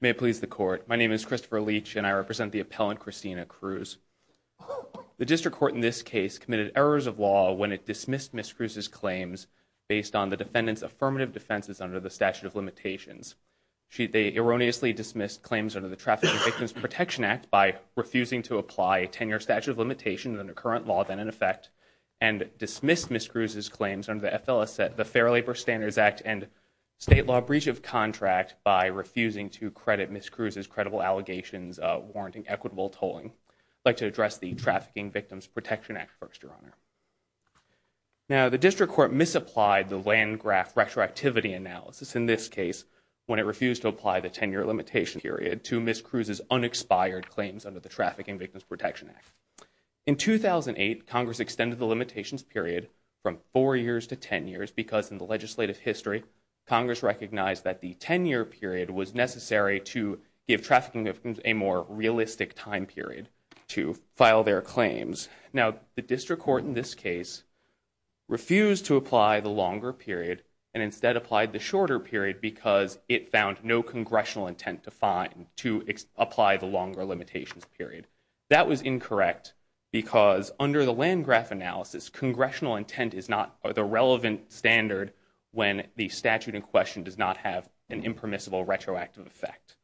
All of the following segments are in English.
May it please the court, my name is Christopher Leach and I represent the appellant Cristina Cruz. The district court in this case committed errors of law when it dismissed Ms. Cruz's claims based on the defendant's affirmative defenses under the statute of limitations. They erroneously dismissed claims under the Trafficking Victims Protection Act by refusing to apply a tenure statute of limitation under current law then in effect and dismissed Ms. Cruz's claims under the FLSA, the Fair Labor Standards Act and state law breach of contract by refusing to credit Ms. Cruz's credible allegations warranting equitable tolling. I'd like to address the Trafficking Victims Protection Act first, Your Honor. Now the district court misapplied the land graph retroactivity analysis in this case when it refused to apply the tenure limitation period to Ms. Cruz's unexpired claims under the Trafficking Victims Protection Act. In 2008 Congress extended the limitations period from four years to ten years because in the legislative history Congress recognized that the tenure period was necessary to give trafficking victims a more realistic time period to file their claims. Now the district court in this case refused to apply the longer period and instead applied the shorter period because it found no congressional intent to apply the longer limitations period. That was incorrect because under the land graph analysis congressional intent is not the relevant standard when the statute in question does not have an impermissible retroactive effect.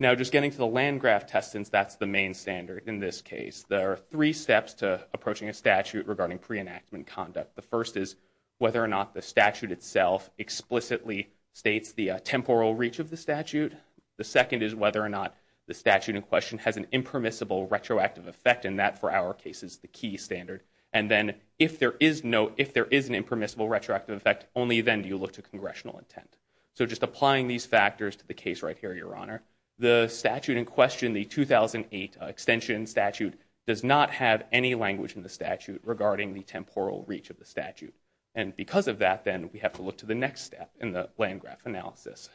Now just getting to the land graph test since that's the main standard in this case, there are three steps to approaching a statute regarding pre-enactment conduct. The first is whether or not the statute itself explicitly states the temporal reach of the statute. The second is whether or not the statute in question has an impermissible retroactive effect and that for our case is the key standard. And then if there is no, if there is an impermissible retroactive effect only then do you look to congressional intent. So just applying these factors to the case right here, Your Honor, the statute in question, the 2008 extension statute does not have any language in the statute regarding the temporal reach of the statute. And because of that then we have to look to the next step in the land graph analysis.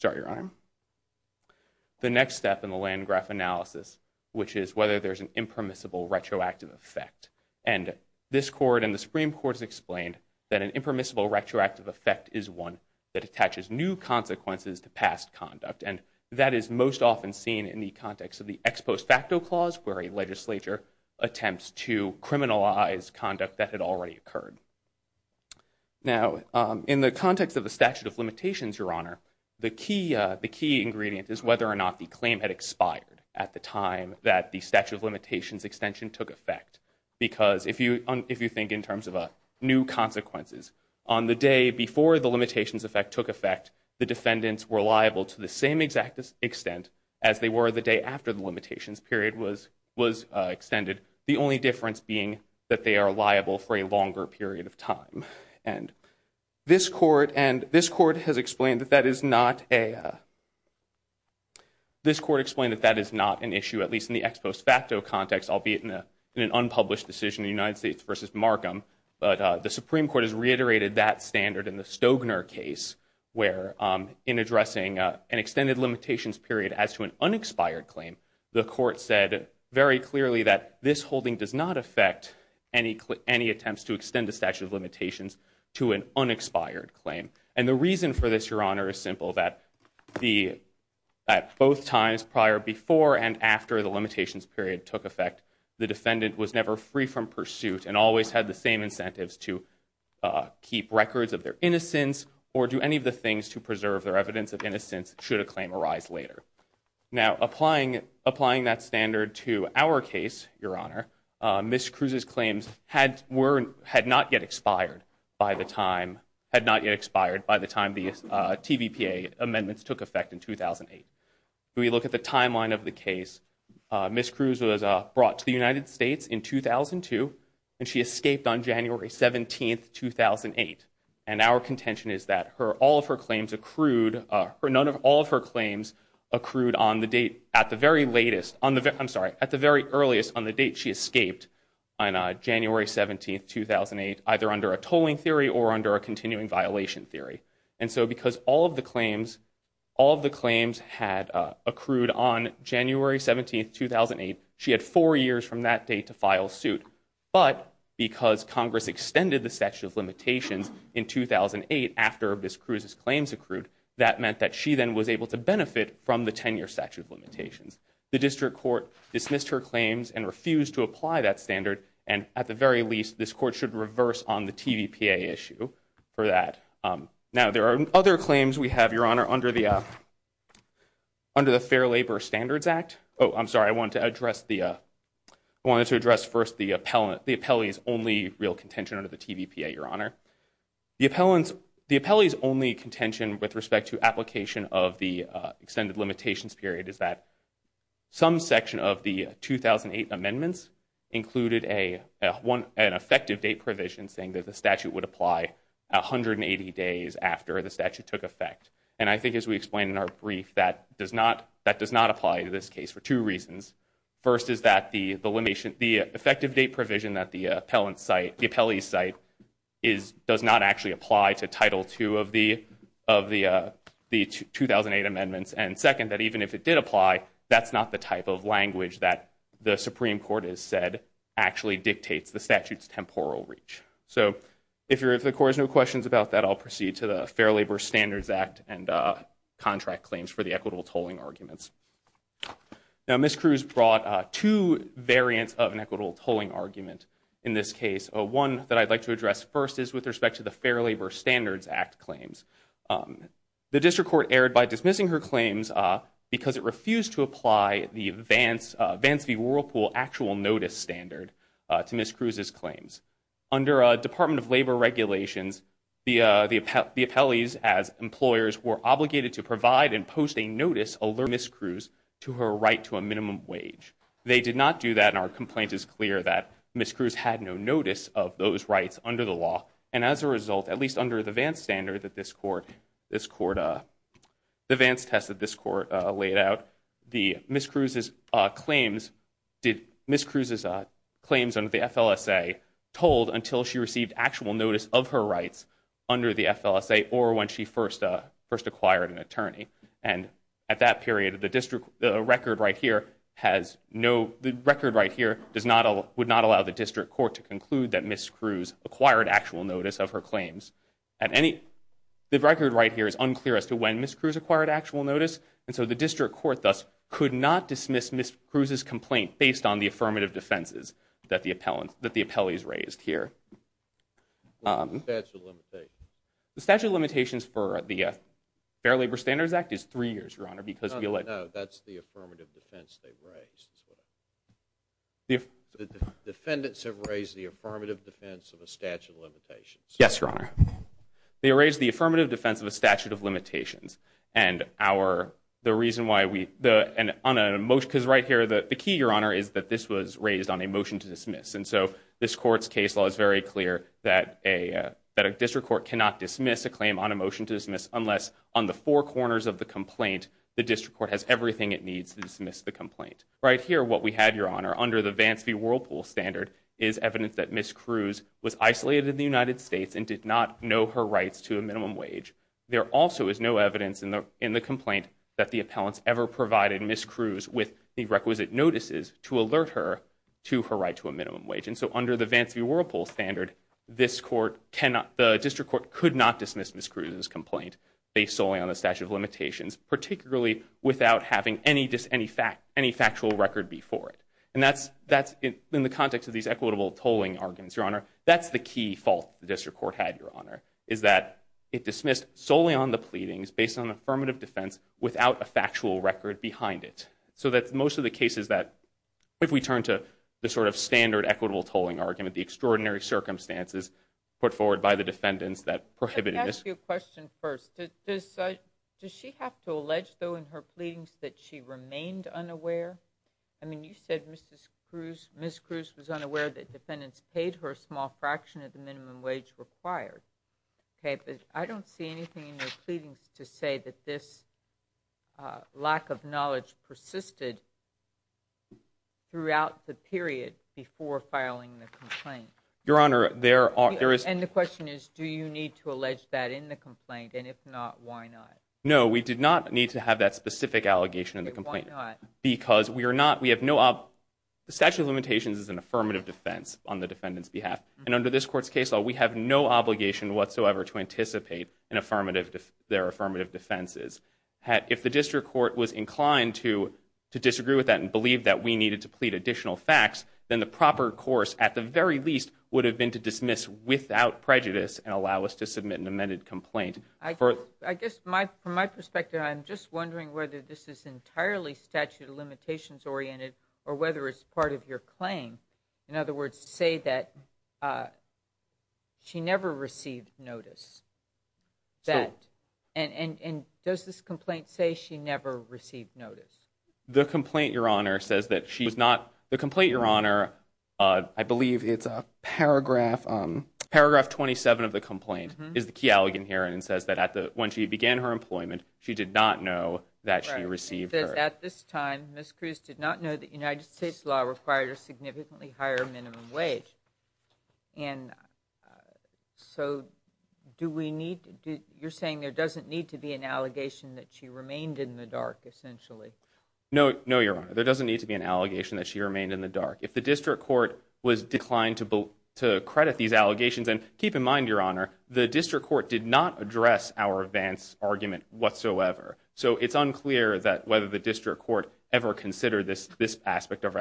Sorry, Your Honor. The next step in the land graph analysis which is whether there's an impermissible retroactive effect. And this court and the Supreme Court has explained that an impermissible retroactive effect is one that attaches new consequences to past conduct. And that is most often seen in the context of the ex post facto clause where a legislature attempts to criminalize conduct that had already occurred. Now in the context of the statute of limitations, Your Honor, the key ingredient is whether or not the claim had expired at the time that the statute of limitations extension took effect. Because if you think in terms of new consequences, on the day before the limitations effect took effect the defendants were liable to the same exact extent as they were the day after the limitations period was extended. The only difference being that they are liable for a longer period of time. And this court has explained that that is not an issue, at least in the ex post facto context, albeit in an unpublished decision in the United States versus Markham. But the Supreme Court has reiterated that standard in the Stogner case where in addressing an extended limitations period as to an unexpired claim, the court said very clearly that this holding does not affect any attempts to extend the statute of limitations to an unexpired claim. And the reason for this, Your Honor, is simple, that both times prior, before and after the limitations period took effect, the defendant was never free from pursuit and always had the same incentives to keep records of their innocence or do any of the things to preserve their evidence of innocence should a claim arise later. Now applying that standard to our case, Your Honor, Ms. Cruz's claims had not yet expired by the time the TVPA amendments took effect in 2008. If we look at the timeline of the case, Ms. Cruz was brought to the United States in 2002 and she escaped on January 17, 2008. And our contention is that all of her claims accrued, none of all of her claims accrued on the date, at the very latest, I'm sorry, at the very earliest on the date she escaped on January 17, 2008, either under a tolling theory or under a continuing violation theory. And so because all of the claims, all of the claims had accrued on January 17, 2008, she had four years from that date to file suit. But because Congress extended the statute of limitations in 2008 after Ms. Cruz's claims accrued, that meant that she then was able to benefit from the 10-year statute of limitations. The district court dismissed her claims and refused to apply that standard. And at the very least, this court should reverse on the TVPA issue for that. Now there are other claims we have, Your Honor, under the Fair Labor Standards Act. Oh, I'm sorry, I wanted to address first the appellee's only real contention under the TVPA, Your Honor. The appellee's only contention with respect to application of the extended limitations period is that some section of the 2008 amendments included an effective date provision saying that the statute would apply 180 days after the statute took effect. And I think as we explained in our brief, that does not apply to this case for two reasons. First is that the effective date provision that the appellee's cite does not actually apply to Title II of the 2008 amendments. And second, that even if it did apply, that's not the type of language that the Supreme Court has said actually dictates the statute's temporal reach. So if the Court has no questions about that, I'll proceed to the Fair Labor Standards Act and contract claims for the equitable tolling arguments. Now Ms. Cruz brought two variants of an equitable tolling argument in this case. One that I'd like to address first is with respect to the Fair Labor Standards Act claims. The district court erred by dismissing her claims because it refused to apply the Vance v. Whirlpool actual notice standard to Ms. Cruz's claims. Under Department of Labor regulations, the appellees as employers were obligated to provide and post a notice alerting Ms. Cruz to her right to a minimum wage. They did not do that and our complaint is clear that Ms. Cruz had no notice of those rights under the law. And as a result, at least under the Vance standard that this court, this court, the Vance test that this court laid out, Ms. Cruz's claims under the FLSA tolled until she received actual notice of her rights under the FLSA or when she first acquired an attorney. And at that period, the record right here would not allow the district court to conclude that Ms. Cruz acquired actual notice of her claims. The record right here is unclear as to when Ms. Cruz acquired actual notice, and so the district court thus could not dismiss Ms. Cruz's complaint based on the affirmative defenses that the appellees raised here. What's the statute of limitations? The statute of limitations for the Fair Labor Standards Act is three years, Your Honor, because we elect— No, no, that's the affirmative defense they raised. The defendants have raised the affirmative defense of a statute of limitations. Yes, Your Honor. They raised the affirmative defense of a statute of limitations. And the reason why we—because right here, the key, Your Honor, is that this was raised on a motion to dismiss. And so this court's case law is very clear that a district court cannot dismiss a claim on a motion to dismiss unless on the four corners of the complaint, the district court has everything it needs to dismiss the complaint. Right here, what we had, Your Honor, under the Vance v. Whirlpool standard, is evidence that Ms. Cruz was isolated in the United States and did not know her rights to a minimum wage. There also is no evidence in the complaint that the appellants ever provided Ms. Cruz with the requisite notices to alert her to her right to a minimum wage. And so under the Vance v. Whirlpool standard, this court cannot—the district court could not dismiss Ms. Cruz's complaint based solely on the statute of limitations, particularly without having any factual record before it. And that's—in the context of these equitable tolling arguments, Your Honor, that's the key fault the district court had, Your Honor, is that it dismissed solely on the pleadings based on affirmative defense without a factual record behind it. So that most of the cases that—if we turn to the sort of standard equitable tolling argument, the extraordinary circumstances put forward by the defendants that prohibited this— Let me ask you a question first. Does she have to allege, though, in her pleadings that she remained unaware? I mean, you said Ms. Cruz was unaware that defendants paid her a small fraction of the minimum wage required. Okay, but I don't see anything in her pleadings to say that this lack of knowledge persisted throughout the period before filing the complaint. Your Honor, there is— And the question is, do you need to allege that in the complaint? And if not, why not? No, we did not need to have that specific allegation in the complaint. Why not? Because we are not—we have no— The statute of limitations is an affirmative defense on the defendant's behalf. And under this Court's case law, we have no obligation whatsoever to anticipate their affirmative defenses. If the district court was inclined to disagree with that and believe that we needed to plead additional facts, then the proper course, at the very least, would have been to dismiss without prejudice and allow us to submit an amended complaint. I guess from my perspective, I'm just wondering whether this is entirely statute of limitations oriented or whether it's part of your claim. In other words, say that she never received notice. And does this complaint say she never received notice? The complaint, Your Honor, says that she was not—the complaint, Your Honor— I believe it's a paragraph— says that when she began her employment, she did not know that she received her— It says, at this time, Ms. Cruz did not know that United States law required a significantly higher minimum wage. And so do we need—you're saying there doesn't need to be an allegation that she remained in the dark, essentially. No, Your Honor. There doesn't need to be an allegation that she remained in the dark. If the district court was inclined to credit these allegations—and keep in mind, Your Honor, the district court did not address our advance argument whatsoever. So it's unclear whether the district court ever considered this aspect of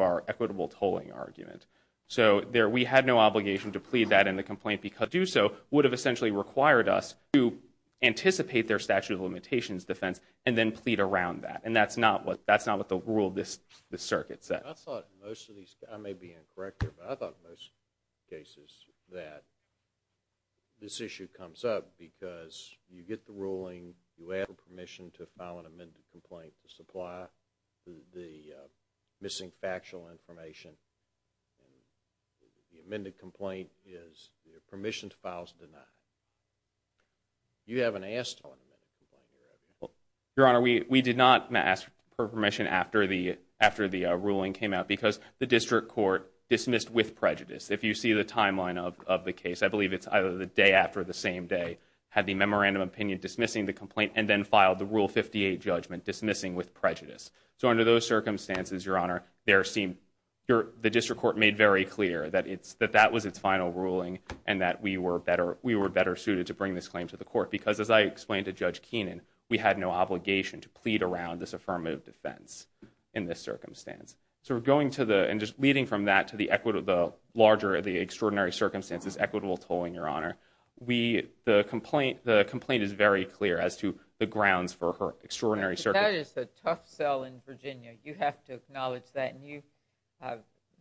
our equitable tolling argument. So we had no obligation to plead that in the complaint because to do so would have essentially required us to anticipate their statute of limitations defense and then plead around that. And that's not what the rule of this circuit said. I thought most of these—I may be incorrect here, but I thought in most cases that this issue comes up because you get the ruling, you have permission to file an amended complaint to supply the missing factual information. The amended complaint is—your permission to file is denied. You haven't asked for an amended complaint. Your Honor, we did not ask for permission after the ruling came out because the district court dismissed with prejudice. If you see the timeline of the case, I believe it's either the day after the same day, had the memorandum of opinion dismissing the complaint and then filed the Rule 58 judgment dismissing with prejudice. So under those circumstances, Your Honor, the district court made very clear that that was its final ruling because as I explained to Judge Keenan, we had no obligation to plead around this affirmative defense in this circumstance. So we're going to the—and just leading from that to the larger, the extraordinary circumstances, equitable tolling, Your Honor. The complaint is very clear as to the grounds for her extraordinary circumstances. That is a tough sell in Virginia. You have to acknowledge that. And you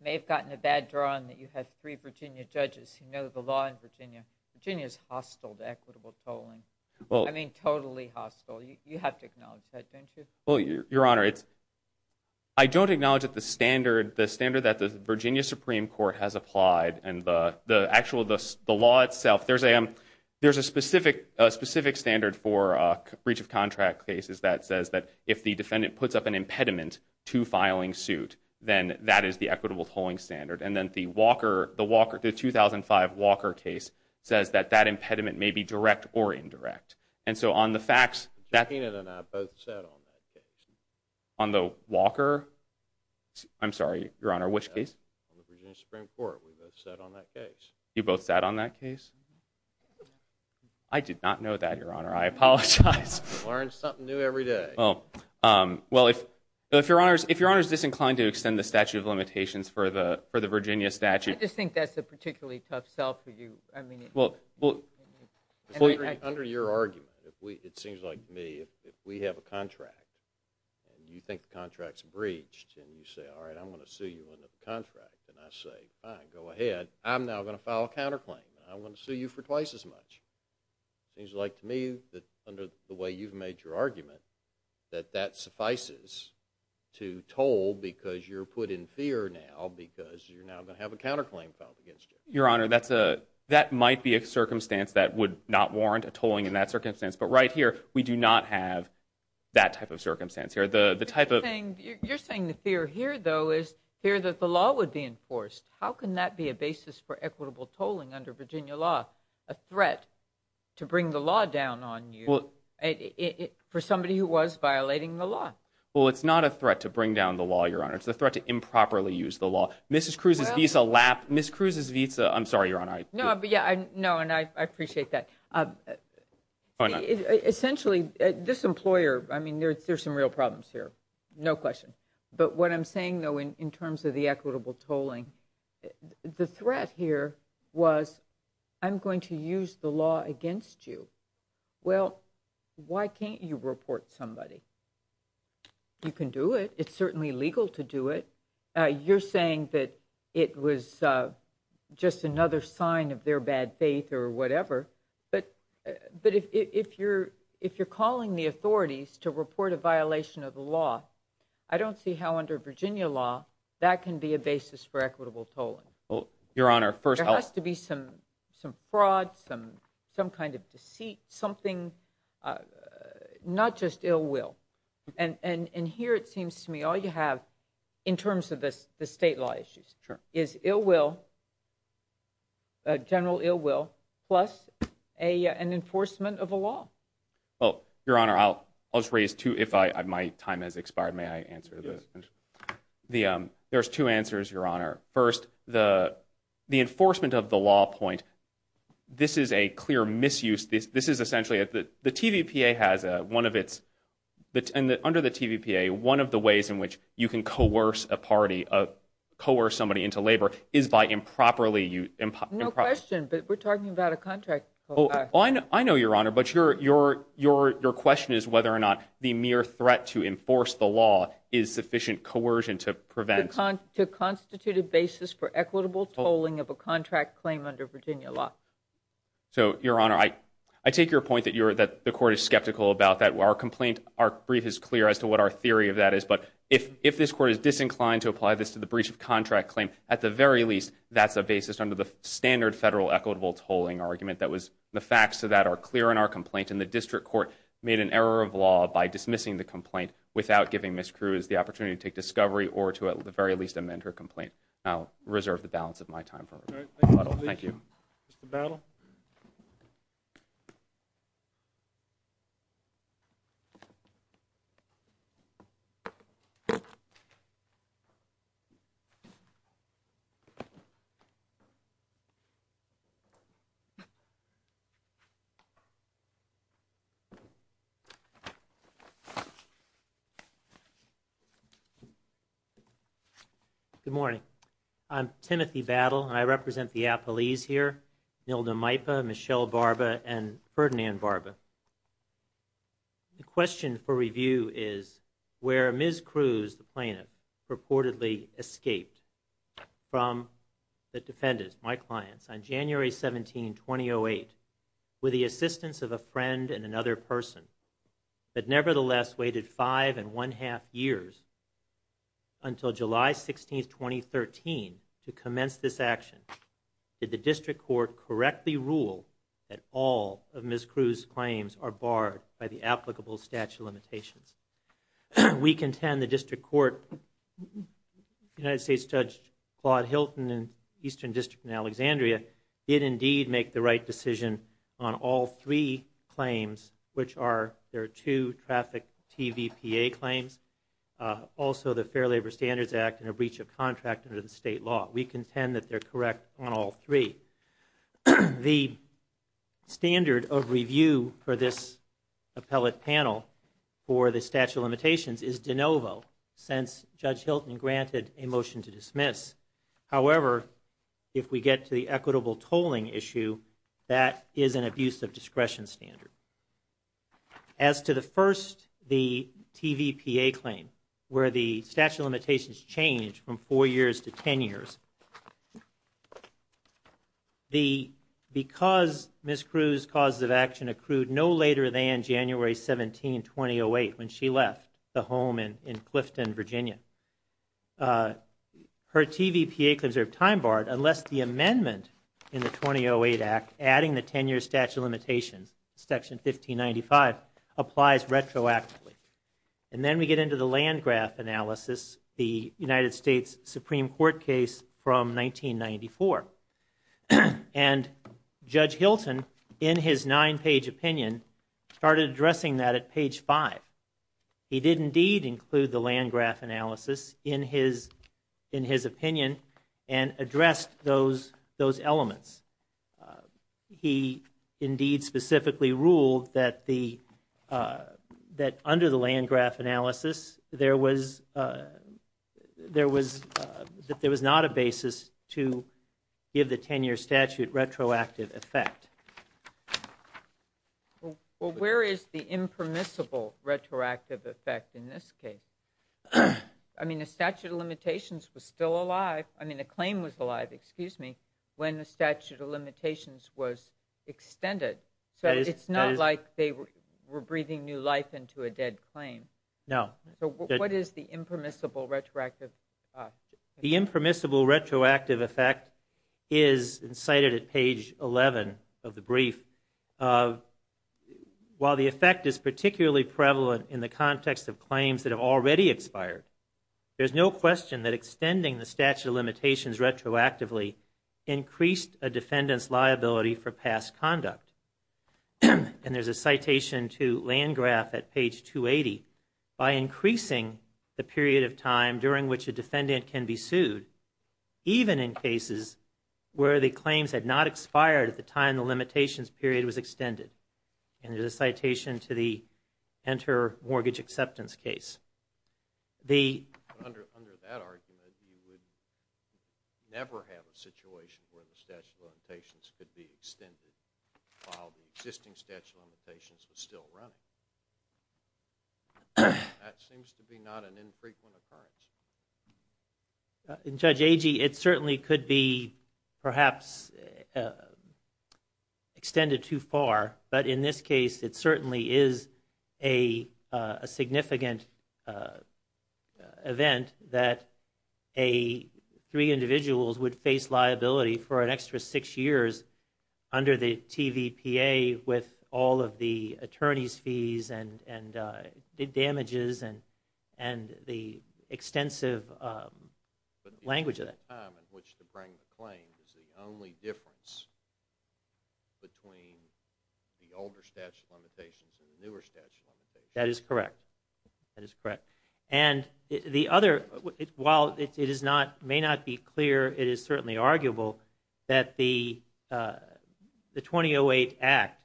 may have gotten a bad drawing that you have three Virginia judges who know the law in Virginia. Virginia's hostile to equitable tolling. I mean, totally hostile. You have to acknowledge that, don't you? Well, Your Honor, I don't acknowledge that the standard that the Virginia Supreme Court has applied and the actual, the law itself, there's a specific standard for breach of contract cases that says that if the defendant puts up an impediment to filing suit, then that is the equitable tolling standard. And then the Walker, the 2005 Walker case says that that impediment may be direct or indirect. And so on the facts— Judge Keenan and I both sat on that case. On the Walker? I'm sorry, Your Honor, which case? On the Virginia Supreme Court. We both sat on that case. You both sat on that case? I did not know that, Your Honor. I apologize. Learn something new every day. Well, if Your Honor's disinclined to extend the statute of limitations for the Virginia statute— I just think that's a particularly tough sell for you. Well, under your argument, it seems like to me, if we have a contract, and you think the contract's breached, and you say, all right, I'm going to sue you under the contract. And I say, fine, go ahead. I'm now going to file a counterclaim. I'm going to sue you for twice as much. It seems like to me, under the way you've made your argument, that that suffices to toll because you're put in fear now because you're now going to have a counterclaim filed against you. Your Honor, that might be a circumstance that would not warrant a tolling in that circumstance. But right here, we do not have that type of circumstance here. The type of— You're saying the fear here, though, is fear that the law would be enforced. How can that be a basis for equitable tolling under Virginia law, a threat to bring the law down on you for somebody who was violating the law? Well, it's not a threat to bring down the law, Your Honor. It's a threat to improperly use the law. Mrs. Cruz's visa— I'm sorry, Your Honor. No, and I appreciate that. Essentially, this employer—I mean, there's some real problems here. No question. But what I'm saying, though, in terms of the equitable tolling, the threat here was I'm going to use the law against you. Well, why can't you report somebody? You can do it. It's certainly legal to do it. You're saying that it was just another sign of their bad faith or whatever. But if you're calling the authorities to report a violation of the law, I don't see how under Virginia law that can be a basis for equitable tolling. Well, Your Honor, first— There has to be some fraud, some kind of deceit, something—not just ill will. And here it seems to me all you have, in terms of the state law issues, is ill will, general ill will, plus an enforcement of a law. Well, Your Honor, I'll just raise two if my time has expired. May I answer? Yes. There's two answers, Your Honor. First, the enforcement of the law point, this is a clear misuse. This is essentially—the TVPA has one of its— No question, but we're talking about a contract. I know, Your Honor, but your question is whether or not the mere threat to enforce the law is sufficient coercion to prevent— To constitute a basis for equitable tolling of a contract claim under Virginia law. So, Your Honor, I take your point that the Court is skeptical about that. Our brief is clear as to what our theory of that is. But if this Court is disinclined to apply this to the breach of contract claim, at the very least, that's a basis under the standard federal equitable tolling argument. The facts of that are clear in our complaint, and the District Court made an error of law by dismissing the complaint without giving Ms. Cruz the opportunity to take discovery or to, at the very least, amend her complaint. I'll reserve the balance of my time. Thank you. Mr. Battle? Thank you. Good morning. I'm Timothy Battle, and I represent the Appalese here, Nilda Maipa, Michelle Barba, and Ferdinand Barba. The question for review is where Ms. Cruz, the plaintiff, reportedly escaped from the defendants, my clients, on January 17, 2008, with the assistance of a friend and another person, but nevertheless waited five and one-half years until July 16, 2013, to commence this action. Did the District Court correctly rule that all of Ms. Cruz's claims are barred by the applicable statute of limitations? We contend the District Court, United States Judge Claude Hilton in the Eastern District in Alexandria, did indeed make the right decision on all three claims, which are there are two traffic TVPA claims, also the Fair Labor Standards Act and a breach of contract under the state law. We contend that they're correct on all three. The standard of review for this appellate panel for the statute of limitations is de novo, since Judge Hilton granted a motion to dismiss. However, if we get to the equitable tolling issue, that is an abuse of discretion standard. As to the first, the TVPA claim, where the statute of limitations changed from four years to ten years, because Ms. Cruz's causes of action accrued no later than January 17, 2008, when she left the home in Clifton, Virginia, her TVPA claims are time-barred unless the amendment in the 2008 Act, adding the ten-year statute of limitations, Section 1595, applies retroactively. And then we get into the Landgraf analysis, the United States Supreme Court case from 1994. And Judge Hilton, in his nine-page opinion, started addressing that at page five. He did indeed include the Landgraf analysis in his opinion and addressed those elements. He indeed specifically ruled that under the Landgraf analysis, there was not a basis to give the ten-year statute retroactive effect. Well, where is the impermissible retroactive effect in this case? I mean, the statute of limitations was still alive. I mean, the claim was alive. Excuse me. When the statute of limitations was extended. So it's not like they were breathing new life into a dead claim. No. So what is the impermissible retroactive effect? The impermissible retroactive effect is cited at page 11 of the brief. While the effect is particularly prevalent in the context of claims that have already expired, there's no question that extending the statute of limitations retroactively increased a defendant's liability for past conduct. And there's a citation to Landgraf at page 280, by increasing the period of time during which a defendant can be sued, even in cases where the claims had not expired at the time the limitations period was extended. And there's a citation to the Enter Mortgage Acceptance case. Under that argument, you would never have a situation where the statute of limitations could be extended while the existing statute of limitations was still running. That seems to be not an infrequent occurrence. In Judge Agee, it certainly could be perhaps extended too far, but in this case it certainly is a significant event that three individuals would face liability for an extra six years under the TVPA with all of the attorney's fees and damages and the extensive language of that. But the time at which to bring the claim is the only difference between the older statute of limitations and the newer statute of limitations. That is correct. That is correct. And the other, while it may not be clear, it is certainly arguable that the 2008 Act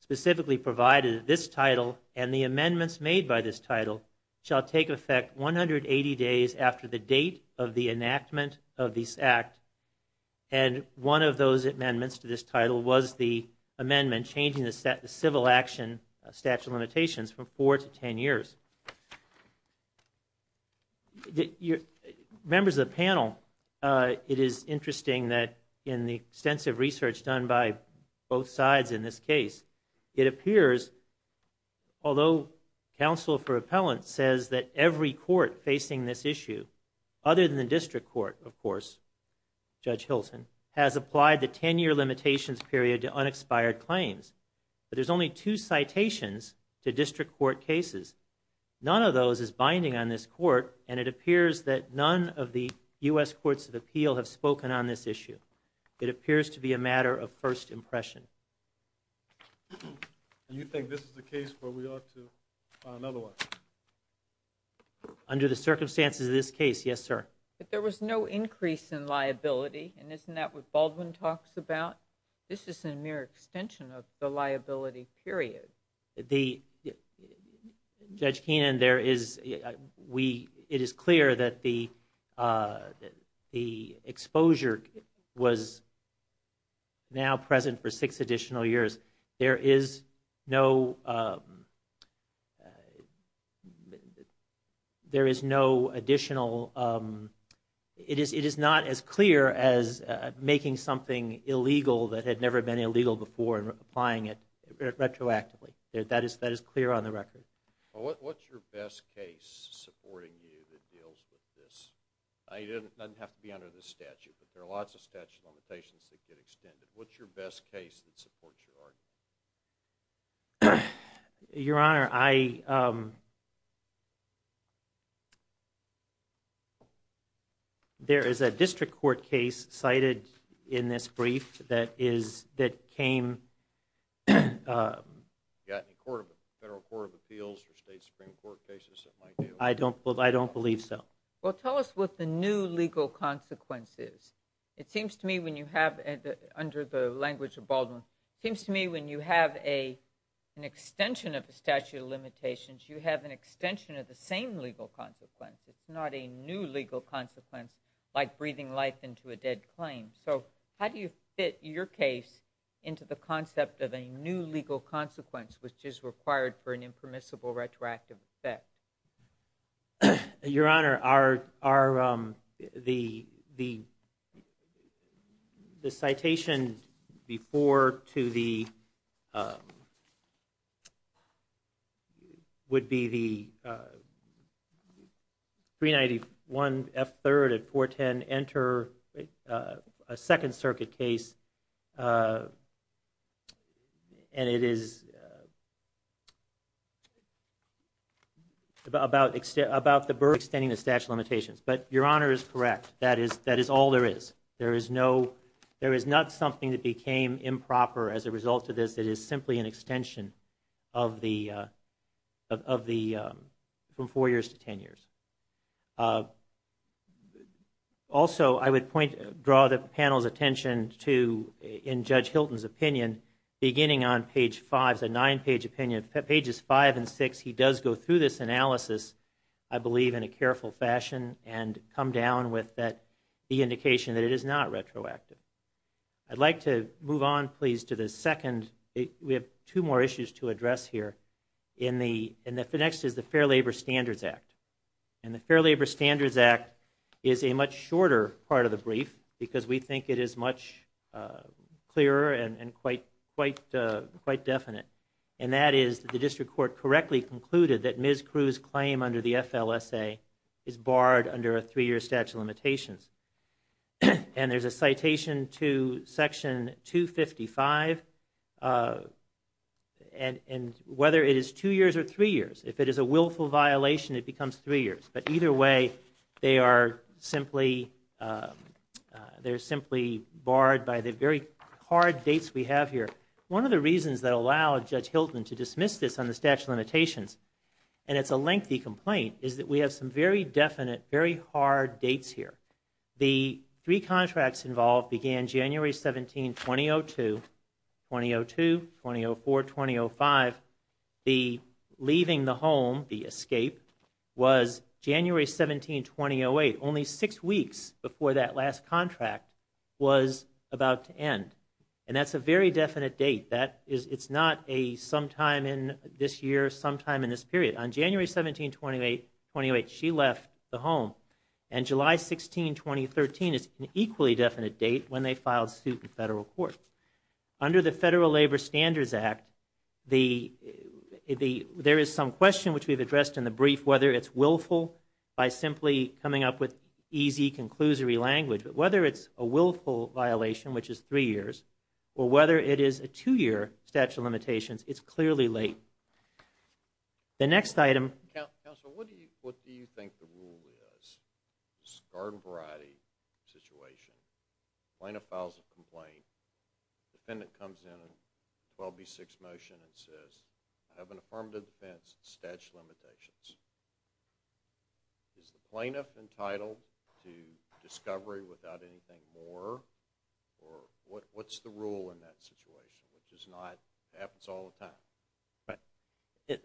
specifically provided this title and the amendments made by this title shall take effect 180 days after the date of the enactment of this Act. And one of those amendments to this title was the amendment changing the civil action statute of limitations from four to ten years. Members of the panel, it is interesting that in the extensive research done by both sides in this case, it appears, although counsel for appellant says that every court facing this issue, other than the district court of course, Judge Hilton, has applied the ten-year limitations period to unexpired claims. But there's only two citations to district court cases. None of those is binding on this court and it appears that none of the U.S. Courts of Appeal have spoken on this issue. It appears to be a matter of first impression. Do you think this is the case where we ought to find another one? Under the circumstances of this case, yes, sir. But there was no increase in liability and isn't that what Baldwin talks about? This is a mere extension of the liability period. Judge Keenan, it is clear that the exposure was now present for six additional years. It is not as clear as making something illegal that had never been illegal before and applying it retroactively. That is clear on the record. What's your best case supporting you that deals with this? It doesn't have to be under this statute, but there are lots of statute limitations that get extended. What's your best case that supports your argument? Your Honor, I... There is a district court case cited in this brief that came... You got any federal court of appeals or state supreme court cases that might do? I don't believe so. Well, tell us what the new legal consequence is. It seems to me when you have, under the language of Baldwin, it seems to me when you have an extension of the statute of limitations, you have an extension of the same legal consequence. It's not a new legal consequence like breathing life into a dead claim. So how do you fit your case into the concept of a new legal consequence which is required for an impermissible retroactive effect? Your Honor, the citation before to the... would be the 391 F. 3rd at 410 Enter, a Second Circuit case. And it is... about the burden of extending the statute of limitations. But Your Honor is correct, that is all there is. There is not something that became improper as a result of this that is simply an extension of the... from 4 years to 10 years. Also, I would draw the panel's attention to, in Judge Hilton's opinion, beginning on page 5, it's a 9-page opinion, pages 5 and 6, he does go through this analysis, I believe, in a careful fashion and come down with the indication that it is not retroactive. I'd like to move on, please, to the second... we have two more issues to address here. And the next is the Fair Labor Standards Act. And the Fair Labor Standards Act is a much shorter part of the brief because we think it is much clearer and quite definite. And that is that the District Court correctly concluded that Ms. Crewe's claim under the FLSA is barred under a 3-year statute of limitations. And there's a citation to Section 255, and whether it is 2 years or 3 years, if it is a willful violation, it becomes 3 years. But either way, they are simply... they're simply barred by the very hard dates we have here. One of the reasons that allowed Judge Hilton to dismiss this on the statute of limitations, and it's a lengthy complaint, is that we have some very definite, very hard dates here. The three contracts involved began January 17, 2002, 2002, 2004, 2005. The leaving the home, the escape, was January 17, 2008, only 6 weeks before that last contract was about to end. And that's a very definite date. It's not a sometime in this year, sometime in this period. On January 17, 2008, she left the home. And July 16, 2013 is an equally definite date when they filed suit in federal court. Under the Federal Labor Standards Act, there is some question, which we've addressed in the brief, whether it's willful by simply coming up with easy, but whether it's a willful violation, which is 3 years, or whether it is a 2-year statute of limitations, it's clearly late. The next item... Counsel, what do you think the rule is? It's a garden variety situation. Plaintiff files a complaint. Defendant comes in on 12B6 motion and says, I have an affirmative defense statute of limitations. Is the plaintiff entitled to discovery without anything more? Or what's the rule in that situation? It happens all the time.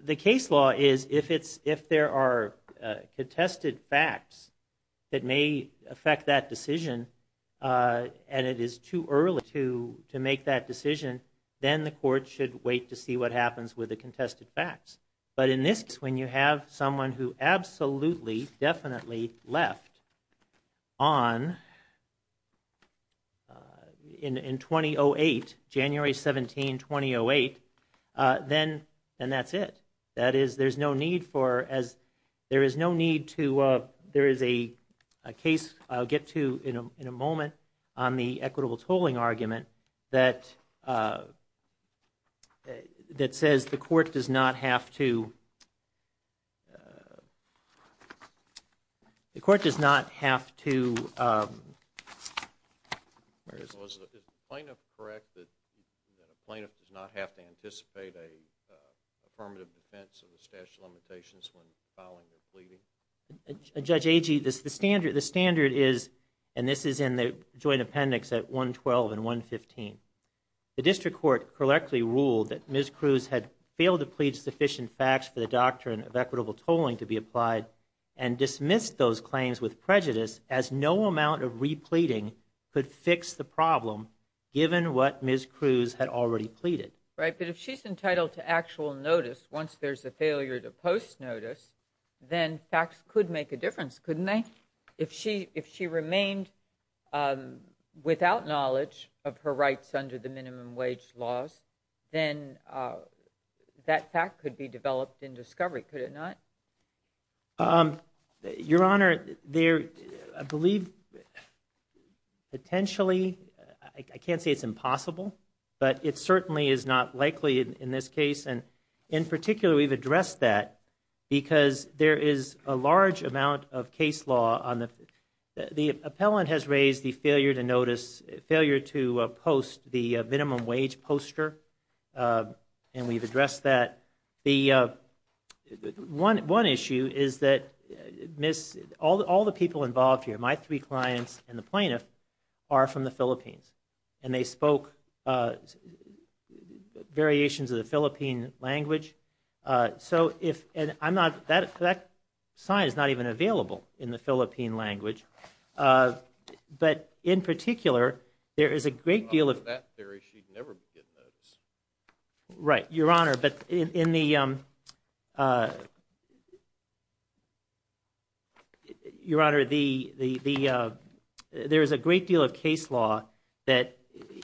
The case law is, if there are contested facts that may affect that decision, and it is too early to make that decision, with the contested facts. But in this case, when you have someone who absolutely, definitely left in 2008, January 17, 2008, then that's it. That is, there's no need for... There is no need to... There is a case I'll get to in a moment on the equitable tolling argument that says the court does not have to... The court does not have to... Is the plaintiff correct that the plaintiff does not have to anticipate an affirmative defense of the statute of limitations when filing a plea? Judge Agee, the standard is, and this is in the joint appendix at 112 and 115, Right, but if she's entitled to actual notice once there's a failure to post notice, then facts could make a difference, couldn't they? If she remained without knowledge of her rights under the minimum wage laws, then that fact could be developed in discovery, could it not? Your Honor, there, I believe, potentially, I can't say it's impossible, but it certainly is not likely in this case, and in particular, we've addressed that, because there is a large amount of case law on the... The appellant has raised the failure to notice, failure to post the minimum wage poster, and we've addressed that. One issue is that all the people involved here, my three clients and the plaintiff, are from the Philippines, and they spoke variations of the Philippine language, so if, and I'm not, that sign is not even available in the Philippine language, but in particular, there is a great deal of... On that theory, she'd never get notice. Right, Your Honor, but in the... Your Honor, there is a great deal of case law that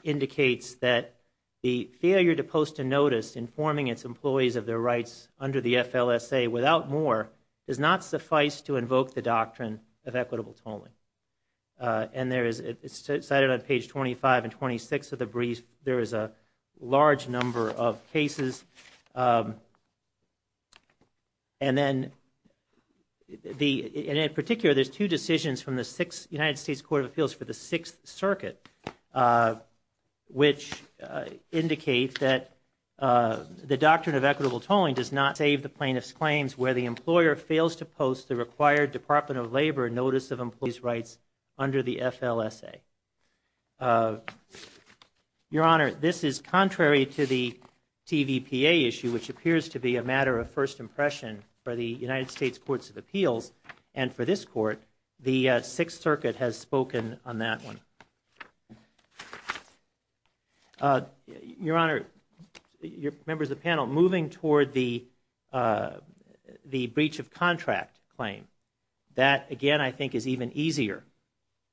indicates that the failure to post a notice informing its employees of their rights under the FLSA without more does not suffice to invoke the doctrine of equitable tolling, and there is, it's cited on page 25 and 26 of the brief, there is a large number of cases, and then, and in particular, there's two decisions from the United States Court of Appeals for the Sixth Circuit, which indicate that the doctrine of equitable tolling does not save the plaintiff's claims where the employer fails to post the required Department of Labor notice of employees' rights under the FLSA. Your Honor, this is contrary to the TVPA issue, which appears to be a matter of first impression for the United States Courts of Appeals, and for this court, the Sixth Circuit has spoken on that one. Your Honor, members of the panel, moving toward the breach of contract claim, that, again, I think is even easier,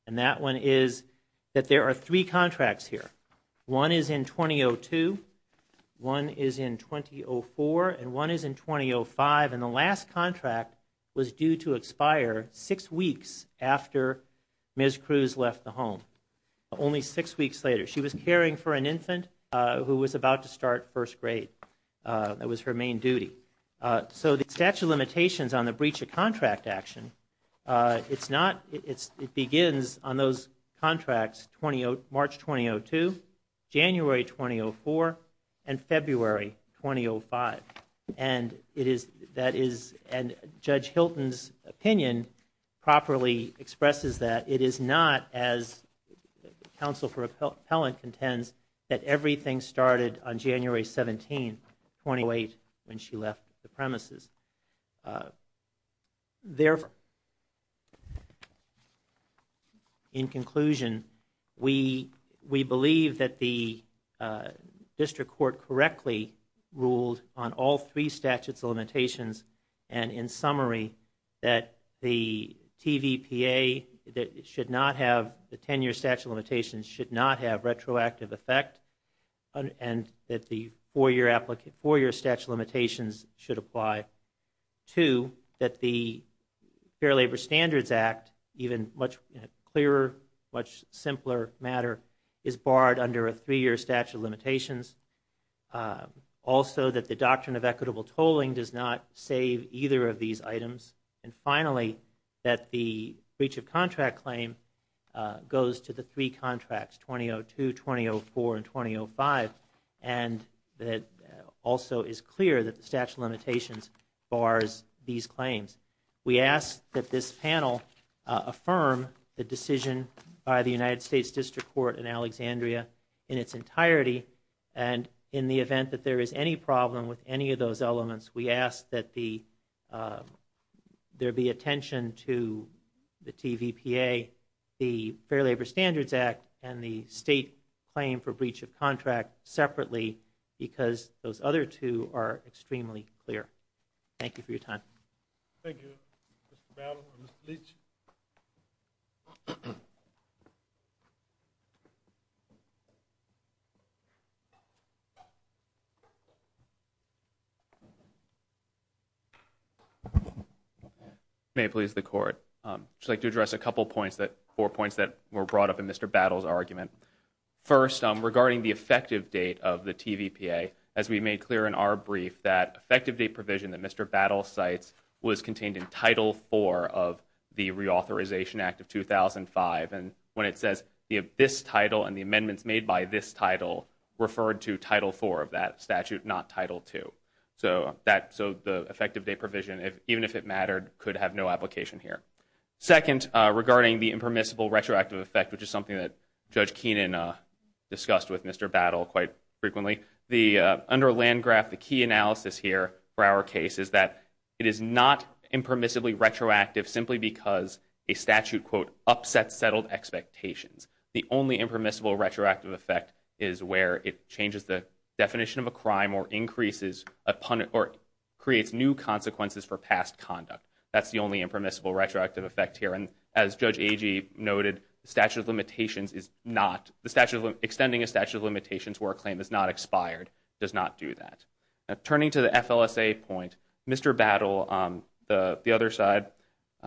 and that one is that there are three contracts here. One is in 2002, one is in 2004, and one is in 2005, and the last contract was due to expire six weeks after Ms. Cruz left the home, only six weeks later. She was caring for an infant who was about to start first grade. That was her main duty. So the statute of limitations on the breach of contract action, it's not, it begins on those contracts, March 2002, January 2004, and February 2005, and it is, that is, and Judge Hilton's opinion properly expresses that it is not, as Counsel for Appellant contends, that everything started on January 17, 2008, when she left the premises. In conclusion, we believe that the district court correctly ruled on all three statutes of limitations, and in summary, that the TVPA should not have, the 10-year statute of limitations should not have retroactive effect, and that the four-year statute of limitations should apply. Two, that the Fair Labor Standards Act, even much clearer, much simpler matter, is barred under a three-year statute of limitations. Also, that the doctrine of equitable tolling does not save either of these items. And finally, that the breach of contract claim goes to the three contracts, 2002, 2004, and 2005, and that also is clear that the statute of limitations bars these claims. We ask that this panel affirm the decision by the United States District Court in Alexandria in its entirety, and in the event that there is any problem with any of those elements, we ask that there be attention to the TVPA, the Fair Labor Standards Act, and the state claim for breach of contract separately, because those other two are extremely clear. Thank you for your time. Thank you, Mr. Battle and Mr. Leach. May it please the Court. I'd just like to address a couple points, four points that were brought up in Mr. Battle's argument. First, regarding the effective date of the TVPA, as we made clear in our brief, that effective date provision that Mr. Battle cites was contained in Title IV of the Reauthorization Act of 2005, and when it says this title and the amendments made by this title referred to Title IV of that statute, not Title II. So the effective date provision, even if it mattered, could have no application here. Second, regarding the impermissible retroactive effect, which is something that Judge Keenan discussed with Mr. Battle quite frequently, under Landgraf, the key analysis here for our case is that it is not impermissibly retroactive simply because a statute, quote, upsets settled expectations. The only impermissible retroactive effect is where it changes the definition of a crime or creates new consequences for past conduct. That's the only impermissible retroactive effect here, and as Judge Agee noted, the statute of limitations is not, extending a statute of limitations where a claim is not expired does not do that. Now, turning to the FLSA point, Mr. Battle, on the other side,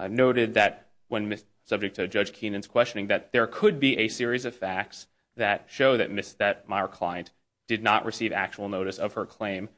noted that when subject to Judge Keenan's questioning that there could be a series of facts that show that Ms. Thetmire-Klein did not receive actual notice of her claim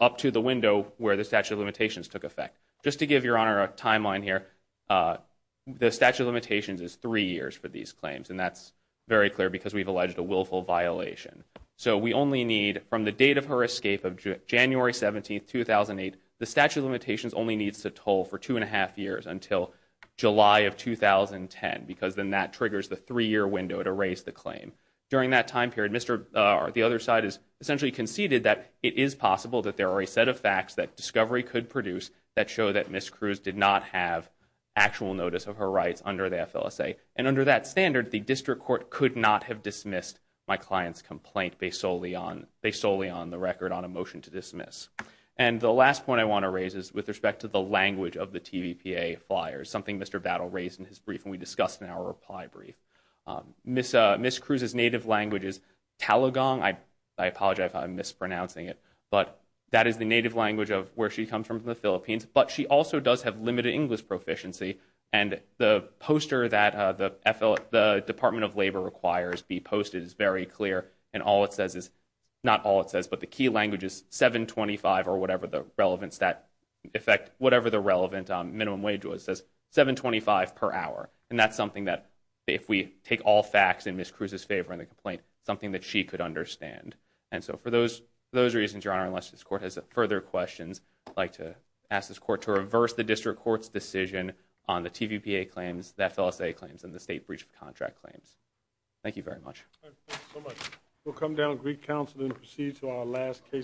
up to the window where the statute of limitations took effect. Just to give Your Honor a timeline here, the statute of limitations is three years for these claims, and that's very clear because we've alleged a willful violation. So we only need, from the date of her escape, of January 17, 2008, the statute of limitations only needs to toll for two and a half years until July of 2010, because then that triggers the three-year window to raise the claim. During that time period, the other side has essentially conceded that it is possible that there are a set of facts that discovery could produce that show that Ms. Cruz did not have actual notice of her rights under the FLSA. And under that standard, the district court could not have dismissed my client's complaint based solely on the record on a motion to dismiss. And the last point I want to raise is with respect to the language of the TVPA flyers, something Mr. Battle raised in his brief, and we discussed in our reply brief. Ms. Cruz's native language is Talagang. I apologize if I'm mispronouncing it, but that is the native language of where she comes from in the Philippines, but she also does have limited English proficiency, and the poster that the Department of Labor requires be posted is very clear, and all it says is... not all it says, but the key language is $7.25 or whatever the relevant minimum wage was. It says $7.25 per hour, and that's something that if we take all facts in Ms. Cruz's favor in the complaint, something that she could understand. And so for those reasons, Your Honor, unless this court has further questions, I'd like to ask this court to reverse the district court's decision on the TVPA claims, the FLSA claims, and the state breach of contract claims. Thank you very much. We'll come down to Greek Council and proceed to our last case.